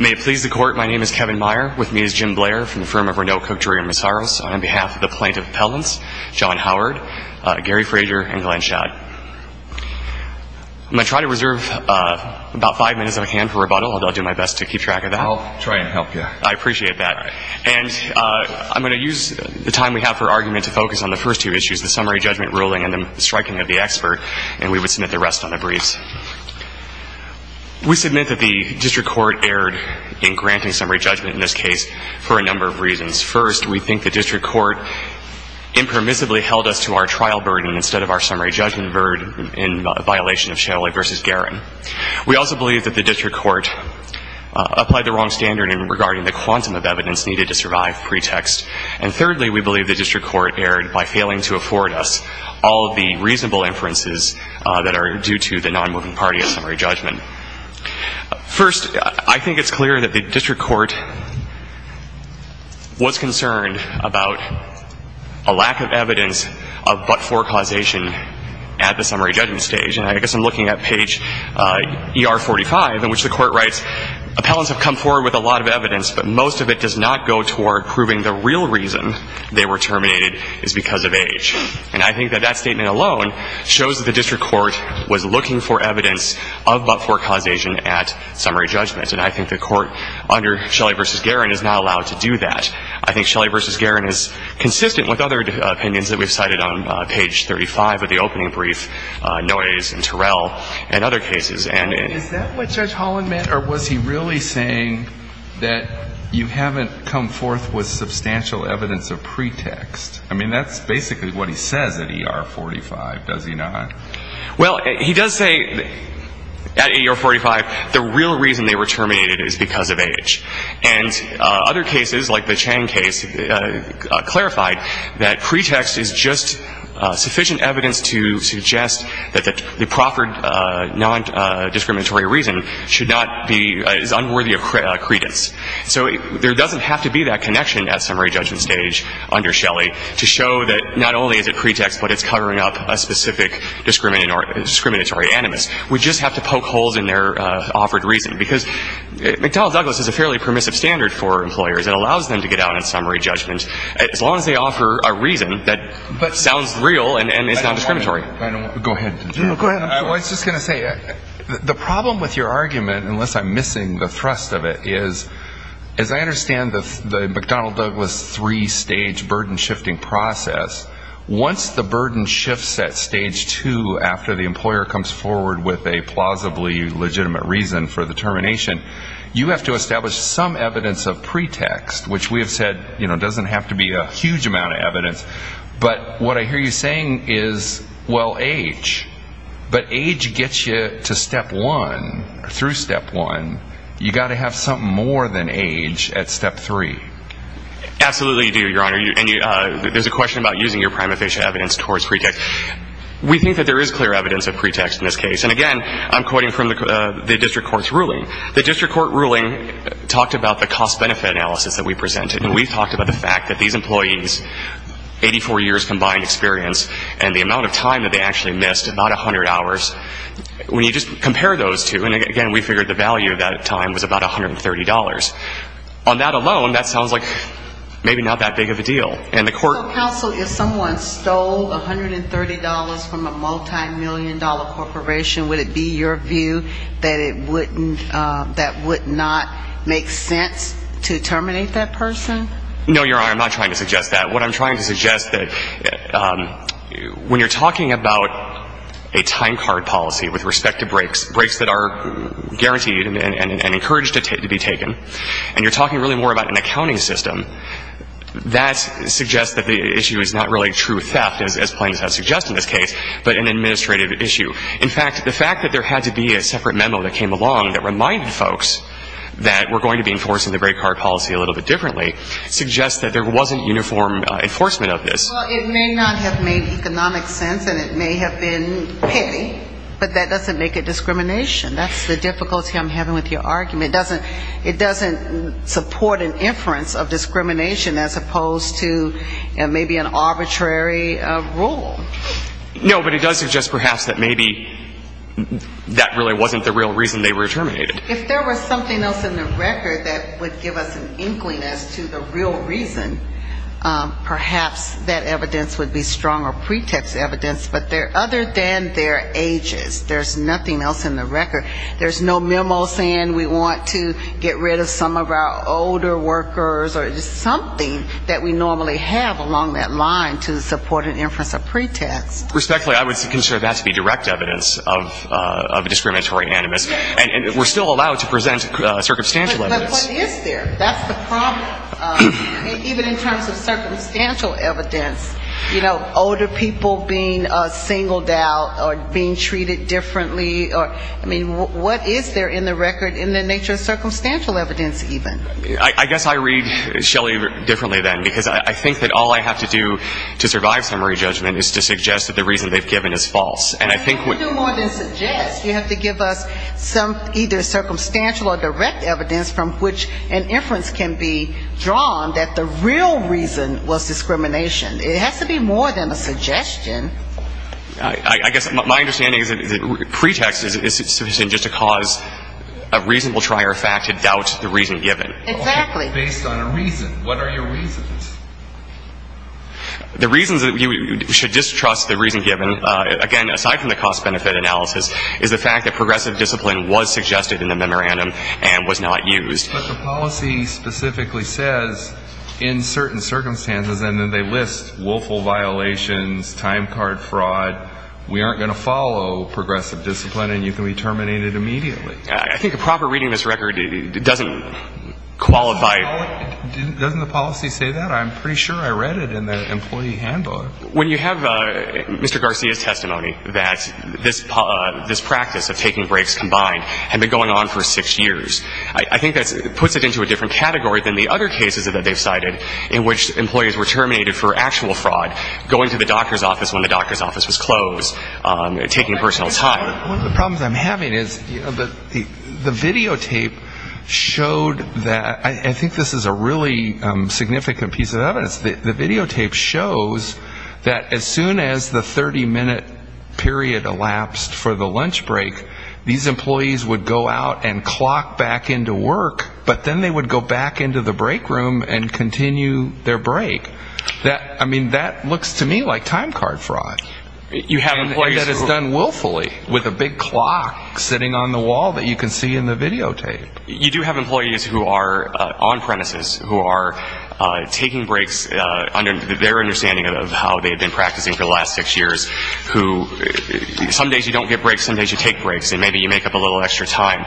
May it please the Court, my name is Kevin Meyer. With me is Jim Blair from the firm of Renault, Cook, Drury & Mazaros on behalf of the Plaintiff Appellants, John Howard, Gary Frazier, and Glenn Schad. I'm going to try to reserve about five minutes on hand for rebuttal, although I'll do my best to keep track of that. I'll try and help you. I appreciate that. And I'm going to use the time we have for argument to focus on the first two issues, the summary judgment ruling and the striking of the expert, and we would submit the rest on the briefs. We submit that the District Court erred in granting summary judgment in this case for a number of reasons. First, we think the District Court impermissibly held us to our trial burden instead of our summary judgment burden in violation of Shalley v. Garan. We also believe that the District Court applied the wrong standard in regarding the quantum of evidence needed to survive pretext. And thirdly, we believe the District Court erred by failing to afford us all of the reasonable inferences that are due to the non-moving party of summary judgment. First, I think it's clear that the District Court was concerned about a lack of evidence of but-for causation at the summary judgment stage. And I guess I'm looking at page ER45 in which the court writes, Appellants have come forward with a lot of evidence, but most of it does not go toward proving the real reason they were terminated is because of age. And I think that that statement alone shows that the District Court was looking for evidence of but-for causation at summary judgment. And I think the court under Shelley v. Garan is not allowed to do that. And I think Shelley v. Garan is consistent with other opinions that we've cited on page 35 of the opening brief, Noyes and Terrell and other cases. And is that what Judge Holland meant? Or was he really saying that you haven't come forth with substantial evidence of pretext? I mean, that's basically what he says at ER45, does he not? Well, he does say at ER45 the real reason they were terminated is because of age. And other cases, like the Chang case, clarified that pretext is just sufficient evidence to suggest that the proffered non-discriminatory reason should not be unworthy of credence. So there doesn't have to be that connection at summary judgment stage under Shelley to show that not only is it pretext, but it's covering up a specific discriminatory animus. We just have to poke holes in their offered reason. Because McDonnell Douglas is a fairly permissive standard for employers. It allows them to get out on summary judgment, as long as they offer a reason that sounds real and is non-discriminatory. Go ahead. I was just going to say, the problem with your argument, unless I'm missing the thrust of it, is as I understand the McDonnell Douglas three-stage burden-shifting process, once the burden shifts at stage two after the employer comes forward with a plausibly legitimate reason for the termination, you have to establish some evidence of pretext, which we have said doesn't have to be a huge amount of evidence. But what I hear you saying is, well, age. But age gets you to step one, through step one. You've got to have something more than age at step three. Absolutely, you do, Your Honor. And there's a question about using your prima facie evidence towards pretext. We think that there is clear evidence of pretext in this case. And, again, I'm quoting from the district court's ruling. The district court ruling talked about the cost-benefit analysis that we presented, and we talked about the fact that these employees, 84 years combined experience, and the amount of time that they actually missed, about 100 hours. When you just compare those two, and, again, we figured the value of that time was about $130. On that alone, that sounds like maybe not that big of a deal. Counsel, if someone stole $130 from a multimillion-dollar corporation, would it be your view that it would not make sense to terminate that person? No, Your Honor, I'm not trying to suggest that. What I'm trying to suggest is that when you're talking about a time card policy with respect to breaks, breaks that are guaranteed and encouraged to be taken, and you're talking really more about an accounting system, that suggests that the issue is not really true theft, as plaintiffs have suggested in this case, but an administrative issue. In fact, the fact that there had to be a separate memo that came along that reminded folks that we're going to be enforcing the break card policy a little bit differently suggests that there wasn't uniform enforcement of this. Well, it may not have made economic sense, and it may have been petty, but that doesn't make it discrimination. That's the difficulty I'm having with your argument. It doesn't support an inference of discrimination as opposed to maybe an arbitrary rule. No, but it does suggest perhaps that maybe that really wasn't the real reason they were terminated. If there was something else in the record that would give us an inkling as to the real reason, perhaps that evidence would be stronger pretext evidence, but other than their ages, there's nothing else in the record. There's no memo saying we want to get rid of some of our older workers or just something that we normally have along that line to support an inference of pretext. Respectfully, I would consider that to be direct evidence of discriminatory animus, and we're still allowed to present circumstantial evidence. But what is there? That's the problem. And even in terms of circumstantial evidence, you know, older people being singled out or being treated differently, I mean, what is there in the record in the nature of circumstantial evidence even? I guess I read Shelley differently then, because I think that all I have to do to survive summary judgment is to suggest that the reason they've given is false. And I think what you do more than suggest, you have to give us some either circumstantial or direct evidence from which an inference can be drawn that the real reason was discrimination. It has to be more than a suggestion. I guess my understanding is that pretext is sufficient just to cause a reasonable trier fact to doubt the reason given. Exactly. Based on a reason. What are your reasons? The reasons that you should distrust the reason given, again, aside from the cost-benefit analysis, is the fact that progressive discipline was suggested in the memorandum and was not used. But the policy specifically says in certain circumstances, and then they list willful violations, time card fraud, we aren't going to follow progressive discipline and you can be terminated immediately. I think a proper reading of this record doesn't qualify. Doesn't the policy say that? I'm pretty sure I read it in the employee handbook. When you have Mr. Garcia's testimony that this practice of taking breaks combined had been going on for six years, I think that puts it into a different category than the other cases that they've cited in which employees were terminated for actual fraud, going to the doctor's office when the doctor's office was closed, taking personal time. One of the problems I'm having is the videotape showed that, I think this is a really significant piece of evidence, the videotape shows that as soon as the 30-minute period elapsed for the lunch break, these employees would go out and clock back into work, but then they would go back into the break room and continue their break. I mean, that looks to me like time card fraud. And that is done willfully with a big clock sitting on the wall that you can see in the videotape. You do have employees who are on premises, who are taking breaks, their understanding of how they've been practicing for the last six years, who some days you don't get breaks, some days you take breaks and maybe you make up a little extra time.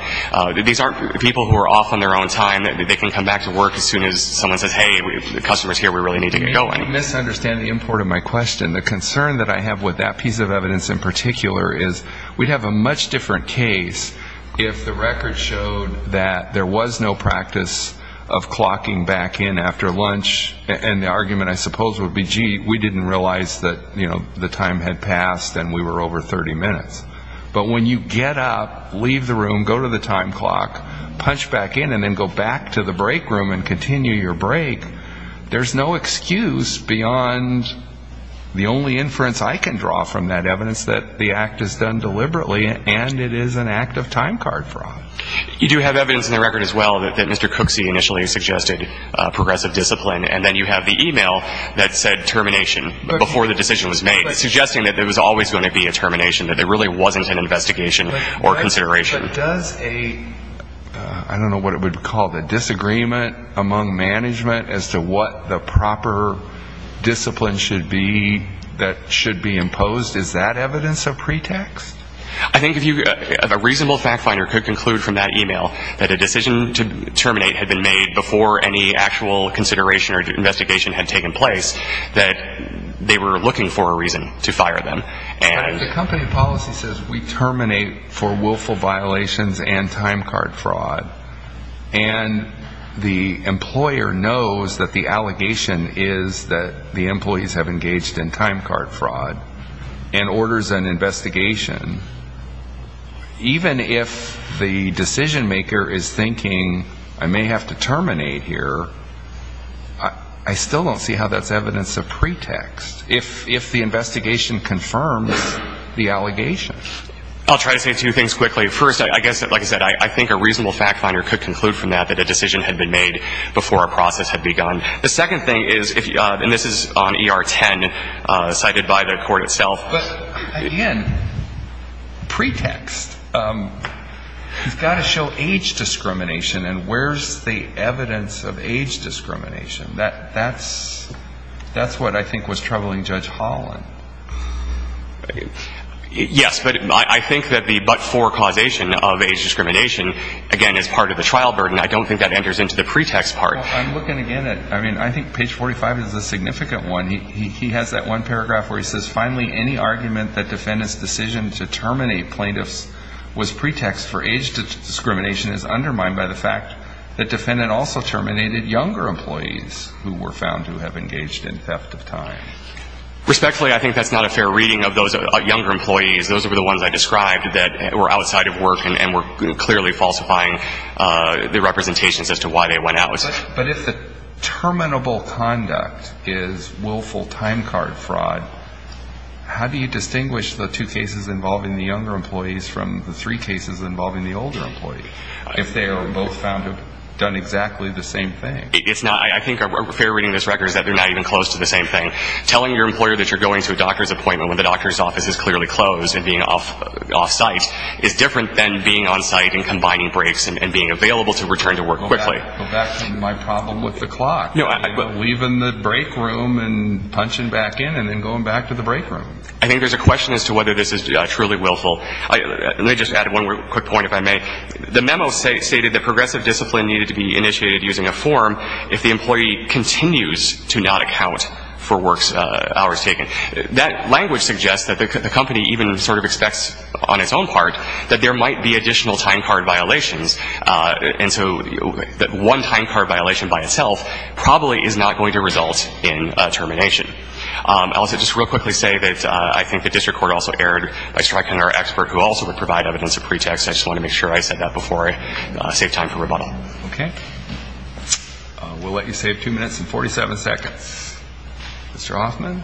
These aren't people who are off on their own time. They can come back to work as soon as someone says, hey, the customer's here, we really need to get going. You misunderstand the import of my question. The concern that I have with that piece of evidence in particular is we'd have a much different case if the record showed that there was no practice of clocking back in after lunch, and the argument I suppose would be, gee, we didn't realize that the time had passed and we were over 30 minutes. But when you get up, leave the room, go to the time clock, punch back in, and then go back to the break room and continue your break, there's no excuse beyond the only inference I can draw from that evidence that the act is done deliberately and it is an act of time card fraud. You do have evidence in the record as well that Mr. Cooksey initially suggested progressive discipline, and then you have the e-mail that said termination before the decision was made, suggesting that there was always going to be a termination, that there really wasn't an investigation or consideration. But does a, I don't know what it would be called, a disagreement among management as to what the proper discipline should be that should be imposed? Is that evidence of pretext? I think if a reasonable fact finder could conclude from that e-mail that a decision to terminate had been made before any actual consideration or investigation had taken place, that they were looking for a reason to fire them. The company policy says we terminate for willful violations and time card fraud. And the employer knows that the allegation is that the employees have engaged in time card fraud and orders an investigation. Even if the decision maker is thinking I may have to terminate here, I still don't see how that's evidence of pretext. If the investigation confirms the allegation. I'll try to say two things quickly. First, I guess, like I said, I think a reasonable fact finder could conclude from that that a decision had been made before a process had begun. The second thing is, and this is on ER 10 cited by the court itself. But, again, pretext. You've got to show age discrimination. And where's the evidence of age discrimination? That's what I think was troubling Judge Holland. Yes, but I think that the but for causation of age discrimination, again, is part of the trial burden. I don't think that enters into the pretext part. Well, I'm looking again at, I mean, I think page 45 is a significant one. He has that one paragraph where he says, finally any argument that defendant's decision to terminate plaintiffs was pretext for age discrimination is undermined by the fact that defendant also terminated younger employees who were found to have engaged in theft of time. Respectfully, I think that's not a fair reading of those younger employees. Those were the ones I described that were outside of work and were clearly falsifying the representations as to why they went out. But if the terminable conduct is willful time card fraud, how do you distinguish the two cases involving the younger employees from the three cases involving the older employee, if they are both found to have done exactly the same thing? It's not. I think a fair reading of this record is that they're not even close to the same thing. Telling your employer that you're going to a doctor's appointment when the doctor's office is clearly closed and being off-site is different than being on-site and combining breaks and being available to return to work quickly. Go back to my problem with the clock. Leaving the break room and punching back in and then going back to the break room. I think there's a question as to whether this is truly willful. Let me just add one quick point, if I may. The memo stated that progressive discipline needed to be initiated using a form if the employee continues to not account for hours taken. That language suggests that the company even sort of expects on its own part that there might be additional time card violations. And so one time card violation by itself probably is not going to result in termination. I'll just real quickly say that I think the district court also erred by striking our expert who also would provide evidence of pretext. I just want to make sure I said that before I save time for rebuttal. Okay. We'll let you save two minutes and 47 seconds. Mr. Hoffman.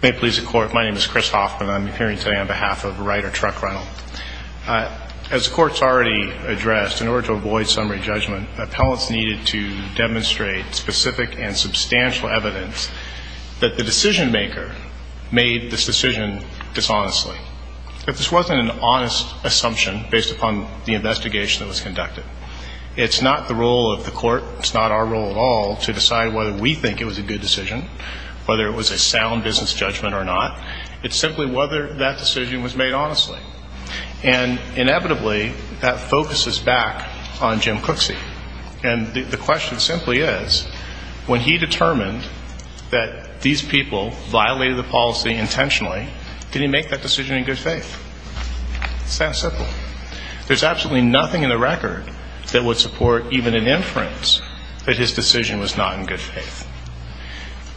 May it please the Court. My name is Chris Hoffman. I'm appearing today on behalf of Rider Truck Rental. As the Court's already addressed, in order to avoid summary judgment, appellants needed to demonstrate specific and substantial evidence that the decision maker made this decision dishonestly. If this wasn't an honest assumption based upon the investigation that was conducted, it's not the role of the Court, it's not our role at all, to decide whether we think it was a good decision, whether it was a sound business judgment or not. It's simply whether that decision was made honestly. And inevitably that focuses back on Jim Cooksey. And the question simply is, when he determined that these people violated the policy intentionally, did he make that decision in good faith? It's that simple. There's absolutely nothing in the record that would support even an inference that his decision was not in good faith.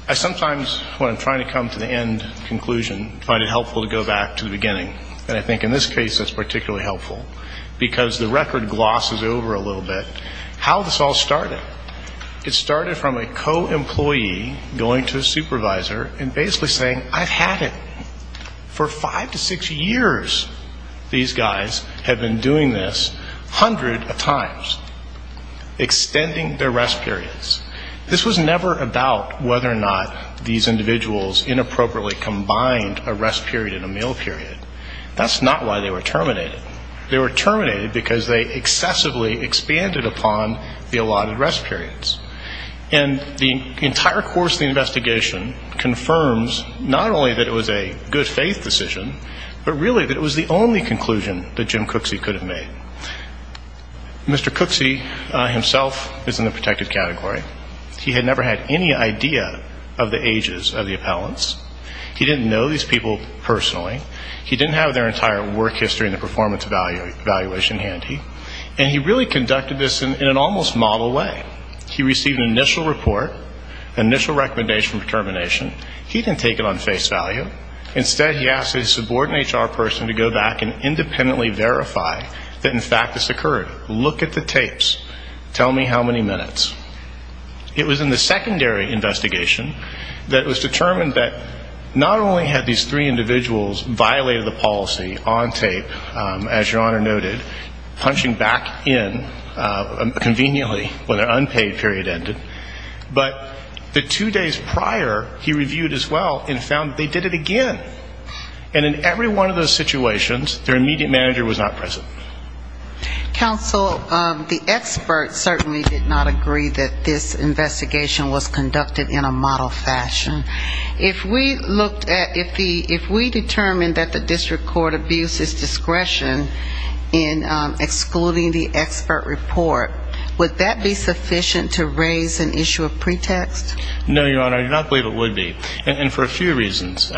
I sometimes, when I'm trying to come to the end conclusion, find it helpful to go back to the beginning. And I think in this case it's particularly helpful. Because the record glosses over a little bit how this all started. It started from a co-employee going to a supervisor and basically saying, I've had it. For five to six years these guys have been doing this a hundred times. Extending their rest periods. This was never about whether or not these individuals inappropriately combined a rest period and a meal period. That's not why they were terminated. They were terminated because they excessively expanded upon the allotted rest periods. And the entire course of the investigation confirms not only that it was a good faith decision, but really that it was the only conclusion that Jim Cooksey could have made. Mr. Cooksey himself is in the protected category. He had never had any idea of the ages of the appellants. He didn't know these people personally. He didn't have their entire work history in the performance evaluation handy. And he really conducted this in an almost model way. He received an initial report, initial recommendation for termination. He didn't take it on face value. Instead he asked a subordinate HR person to go back and independently verify that, in fact, this occurred. Look at the tapes. Tell me how many minutes. It was in the secondary investigation that it was determined that not only had these three individuals violated the policy on tape, as Your Honor noted, punching back in conveniently when their unpaid period ended, but the two days prior he reviewed as well and found that they did it again. And in every one of those situations their immediate manager was not present. Counsel, the experts certainly did not agree that this investigation was conducted in a model fashion. If we looked at, if we determined that the district court abused its discretion in excluding the expert report, would that be sufficient to raise an issue of pretext? No, Your Honor. I do not believe it would be. And for a few reasons.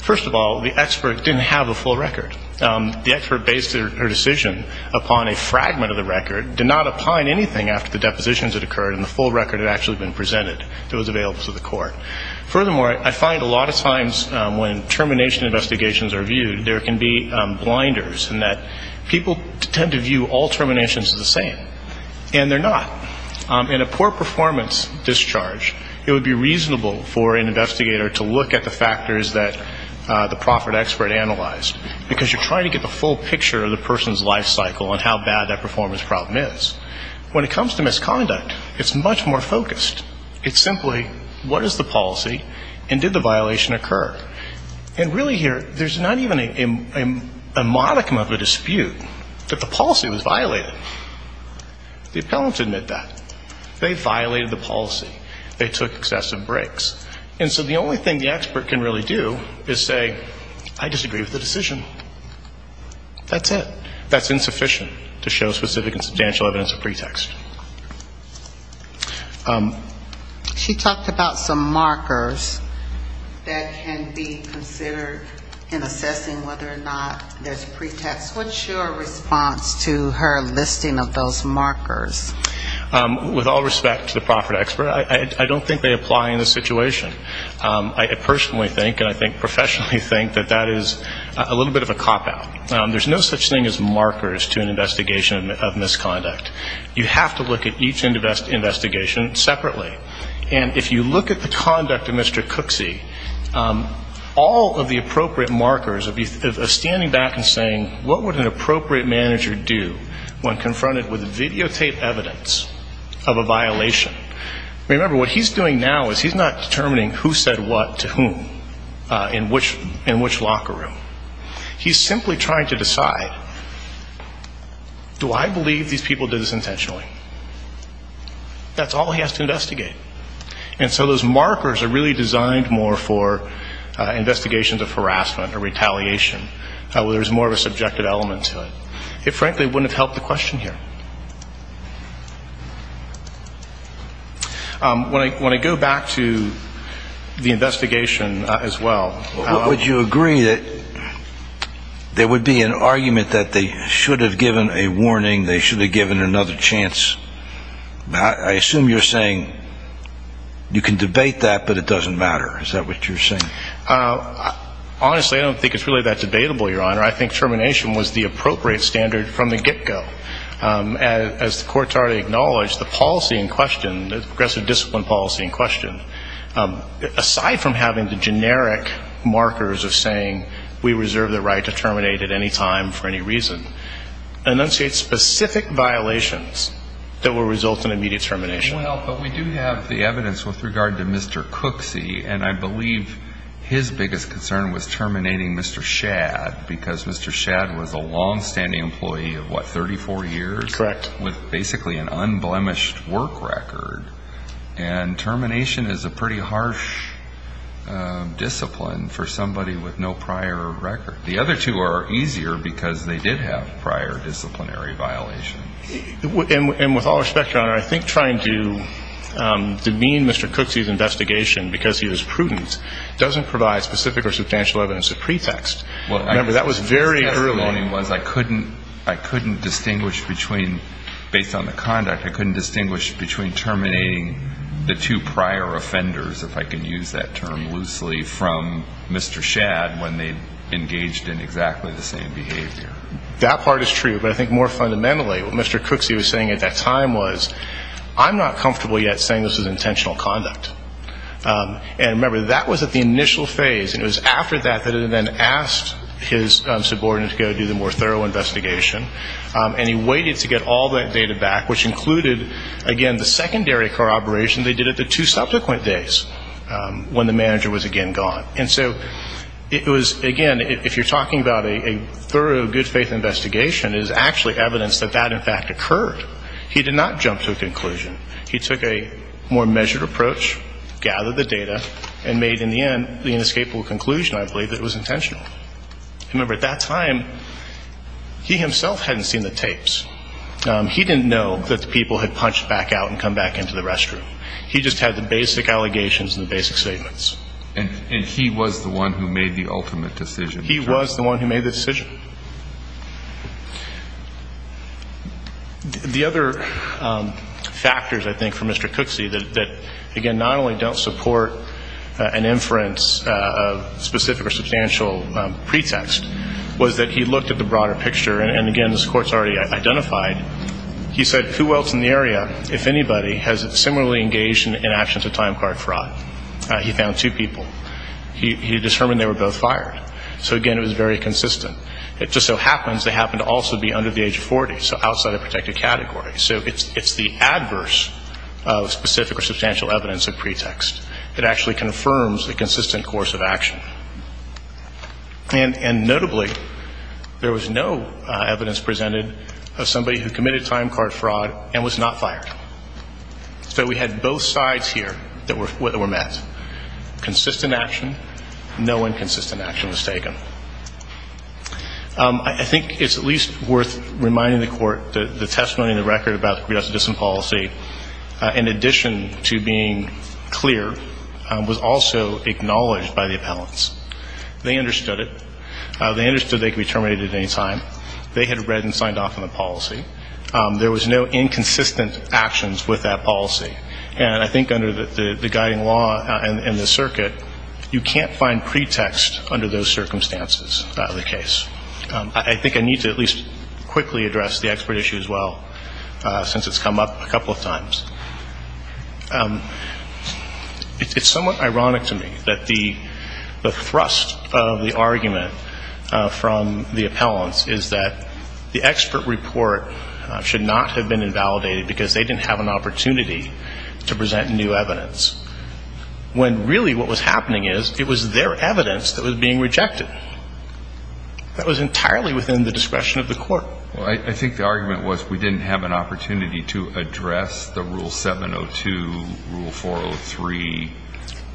First of all, the expert didn't have a full record. The expert based her decision upon a fragment of the record, did not opine anything after the depositions had occurred, and the full record had actually been presented that was available to the court. Furthermore, I find a lot of times when termination investigations are viewed there can be blinders in that people tend to view all terminations as the same. And they're not. In a poor performance discharge, it would be reasonable for an investigator to look at the factors that the profit expert analyzed, because you're trying to get the full picture of the person's life cycle and how bad that performance problem is. When it comes to misconduct, it's much more focused. It's simply what is the policy and did the violation occur. And really here, there's not even a modicum of a dispute that the policy was violated. The appellants admit that. They violated the policy. They took excessive breaks. And so the only thing the expert can really do is say, I disagree with the decision. That's it. That's insufficient to show specific and substantial evidence of pretext. She talked about some markers that can be considered in assessing whether or not there's pretext. What's your response to her listing of those markers? With all respect to the profit expert, I don't think they apply in this situation. I personally think and I think professionally think that that is a little bit of a cop-out. There's no such thing as markers to an investigation of misconduct. You have to look at each investigation separately. And if you look at the conduct of Mr. Cooksey, all of the appropriate markers of standing back and saying, what would an appropriate manager do when confronted with videotape evidence of a violation? Remember, what he's doing now is he's not determining who said what to whom in which locker room. He's simply trying to decide, do I believe these people did this intentionally? That's all he has to investigate. And so those markers are really designed more for investigations of harassment or retaliation. There's more of a subjective element to it. It frankly wouldn't have helped the question here. When I go back to the investigation as well. Would you agree that there would be an argument that they should have given a warning, they should have given another chance? I assume you're saying you can debate that, but it doesn't matter. Is that what you're saying? Honestly, I don't think it's really that debatable, Your Honor. I think termination was the appropriate standard from the get-go. As the courts already acknowledged, the policy in question, the progressive discipline policy in question, aside from having the generic markers of saying we reserve the right to terminate at any time for any reason, enunciates specific violations that will result in immediate termination. Well, but we do have the evidence with regard to Mr. Cooksey, and I believe his biggest concern was terminating Mr. Shadd, because Mr. Shadd was a longstanding employee of, what, 34 years? Correct. With basically an unblemished work record. And termination is a pretty harsh discipline for somebody with no prior record. The other two are easier because they did have prior disciplinary violations. And with all respect, Your Honor, I think trying to demean Mr. Cooksey's investigation because he was prudent doesn't provide specific or substantial evidence of pretext. Remember, that was very early. I couldn't distinguish between, based on the conduct, I couldn't distinguish between terminating the two prior offenders, if I can use that term loosely, from Mr. Shadd when they engaged in exactly the same behavior. That part is true, but I think more fundamentally, what Mr. Cooksey was saying at that time was, I'm not comfortable yet saying this was intentional conduct. And remember, that was at the initial phase, and it was after that that he then asked his subordinate to go do the more thorough investigation. And he waited to get all that data back, which included, again, the secondary corroboration they did at the two subsequent days when the manager was again gone. And so it was, again, if you're talking about a thorough, good-faith investigation, it is actually evidence that that, in fact, occurred. He did not jump to a conclusion. He took a more measured approach, gathered the data, and made, in the end, the inescapable conclusion, I believe, that it was intentional. Remember, at that time, he himself hadn't seen the tapes. He didn't know that the people had punched back out and come back into the restroom. He just had the basic allegations and the basic statements. And he was the one who made the ultimate decision. He was the one who made the decision. The other factors, I think, for Mr. Cooksey that, again, not only don't support an inference of specific or substantial pretext, was that he looked at the broader picture. And, again, this Court's already identified. He said, who else in the area, if anybody, has similarly engaged in actions of time card fraud? He found two people. He determined they were both fired. So, again, it was very consistent. It just so happens they happened to also be under the age of 40, so outside a protected category. So it's the adverse of specific or substantial evidence of pretext that actually confirms the consistent course of action. And, notably, there was no evidence presented of somebody who committed time card fraud and was not fired. So we had both sides here that were met. I think it's at least worth reminding the Court that the testimony in the record about the pre-justice dissent policy, in addition to being clear, was also acknowledged by the appellants. They understood it. They understood they could be terminated at any time. They had read and signed off on the policy. There was no inconsistent actions with that policy. And I think under the guiding law and the circuit, you can't find pretext under those circumstances of the case. I think I need to at least quickly address the expert issue as well, since it's come up a couple of times. It's somewhat ironic to me that the thrust of the argument from the appellants is that the expert report should not have been to present new evidence, when really what was happening is it was their evidence that was being rejected. That was entirely within the discretion of the Court. Well, I think the argument was we didn't have an opportunity to address the Rule 702, Rule 403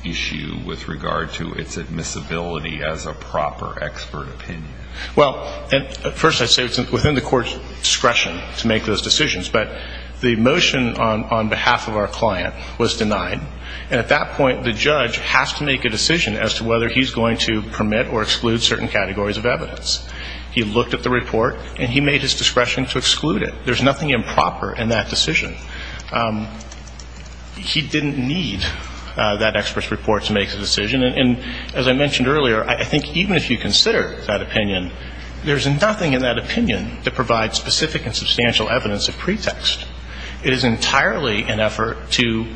issue with regard to its admissibility as a proper expert opinion. Well, first I say it's within the Court's discretion to make those decisions. But the motion on behalf of our client was denied. And at that point, the judge has to make a decision as to whether he's going to permit or exclude certain categories of evidence. He looked at the report, and he made his discretion to exclude it. There's nothing improper in that decision. He didn't need that expert's report to make the decision. And as I mentioned earlier, I think even if you consider that opinion, there's nothing in that opinion that provides specific and substantial evidence of pretext. It is entirely an effort to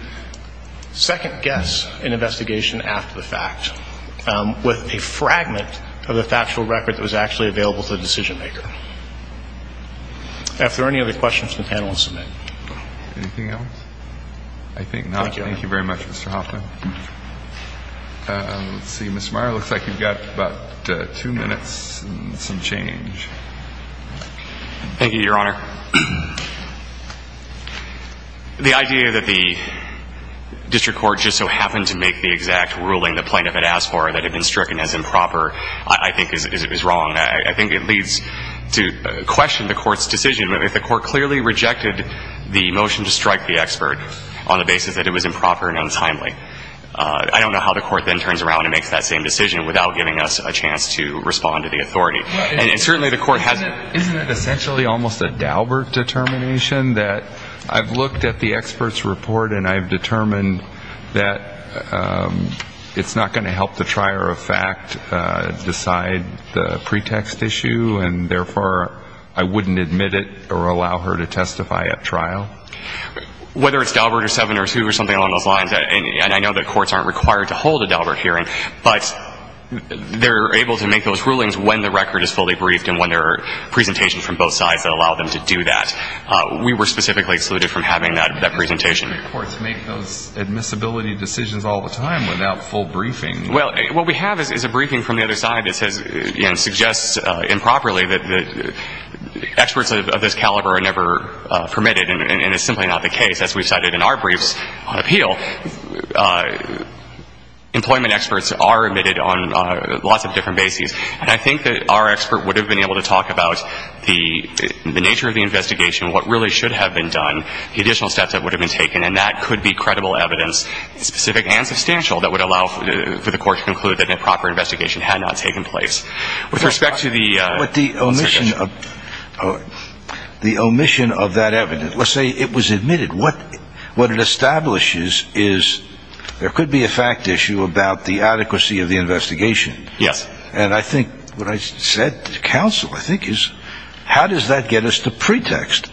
second-guess an investigation after the fact with a fragment of the factual record that was actually available to the decision-maker. If there are any other questions, the panel will submit. Anything else? I think not. Thank you very much, Mr. Hoffman. Let's see. Ms. Meyer, it looks like you've got about two minutes and some change. Thank you, Your Honor. The idea that the district court just so happened to make the exact ruling the plaintiff had asked for that had been stricken as improper I think is wrong. I think it leads to question the Court's decision. If the Court clearly rejected the motion to strike the expert on the basis that it was improper and untimely, I don't know how the Court then turns around and makes that same decision without giving us a chance to respond to the authority. And certainly the Court hasn't. Isn't it essentially almost a Daubert determination that I've looked at the expert's report and I've determined that it's not going to help the trier of fact decide the pretext issue and therefore I wouldn't admit it or allow her to testify at trial? Whether it's Daubert or 7 or 2 or something along those lines, and I know that courts aren't required to hold a Daubert hearing, but they're able to make those rulings when the record is fully briefed and when there are presentations from both sides that allow them to do that. We were specifically excluded from having that presentation. District courts make those admissibility decisions all the time without full briefing. Well, what we have is a briefing from the other side that says and suggests improperly that experts of this caliber are never permitted and it's simply not the case, as we've cited in our briefs on appeal. Employment experts are admitted on lots of different bases. And I think that our expert would have been able to talk about the nature of the investigation, what really should have been done, the additional steps that would have been taken, and that could be credible evidence, specific and substantial, that would allow for the Court to conclude that an improper investigation had not taken place. With respect to the omission of that evidence, let's say it was admitted. What it establishes is there could be a fact issue about the adequacy of the investigation. Yes. And I think what I said to counsel, I think, is how does that get us to pretext?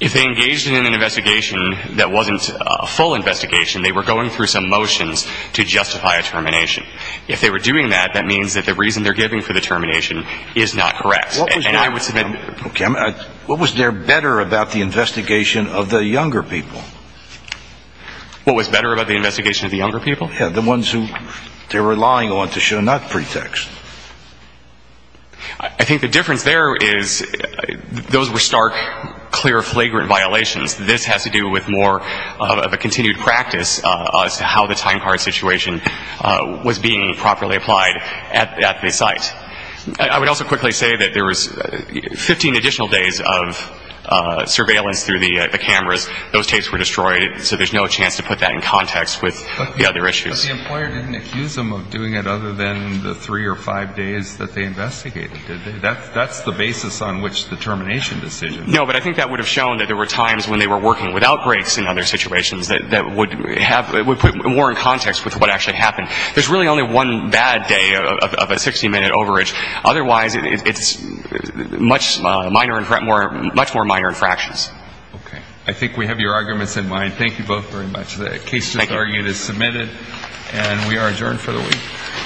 If they engaged in an investigation that wasn't a full investigation, they were going through some motions to justify a termination. If they were doing that, that means that the reason they're giving for the termination is not correct. And I would submit. Okay. What was there better about the investigation of the younger people? What was better about the investigation of the younger people? Yeah, the ones who they were relying on to show not pretext. I think the difference there is those were stark, clear, flagrant violations. This has to do with more of a continued practice as to how the time card situation was being properly applied at the site. I would also quickly say that there was 15 additional days of surveillance through the cameras. Those tapes were destroyed. So there's no chance to put that in context with the other issues. But the employer didn't accuse them of doing it other than the three or five days that they investigated, did they? That's the basis on which the termination decision was made. No, but I think that would have shown that there were times when they were working with outbreaks in other situations that would put more in context with what actually happened. There's really only one bad day of a 60-minute overage. Otherwise, it's much more minor infractions. Okay. I think we have your arguments in mind. Thank you both very much. The case just argued is submitted. And we are adjourned for the week.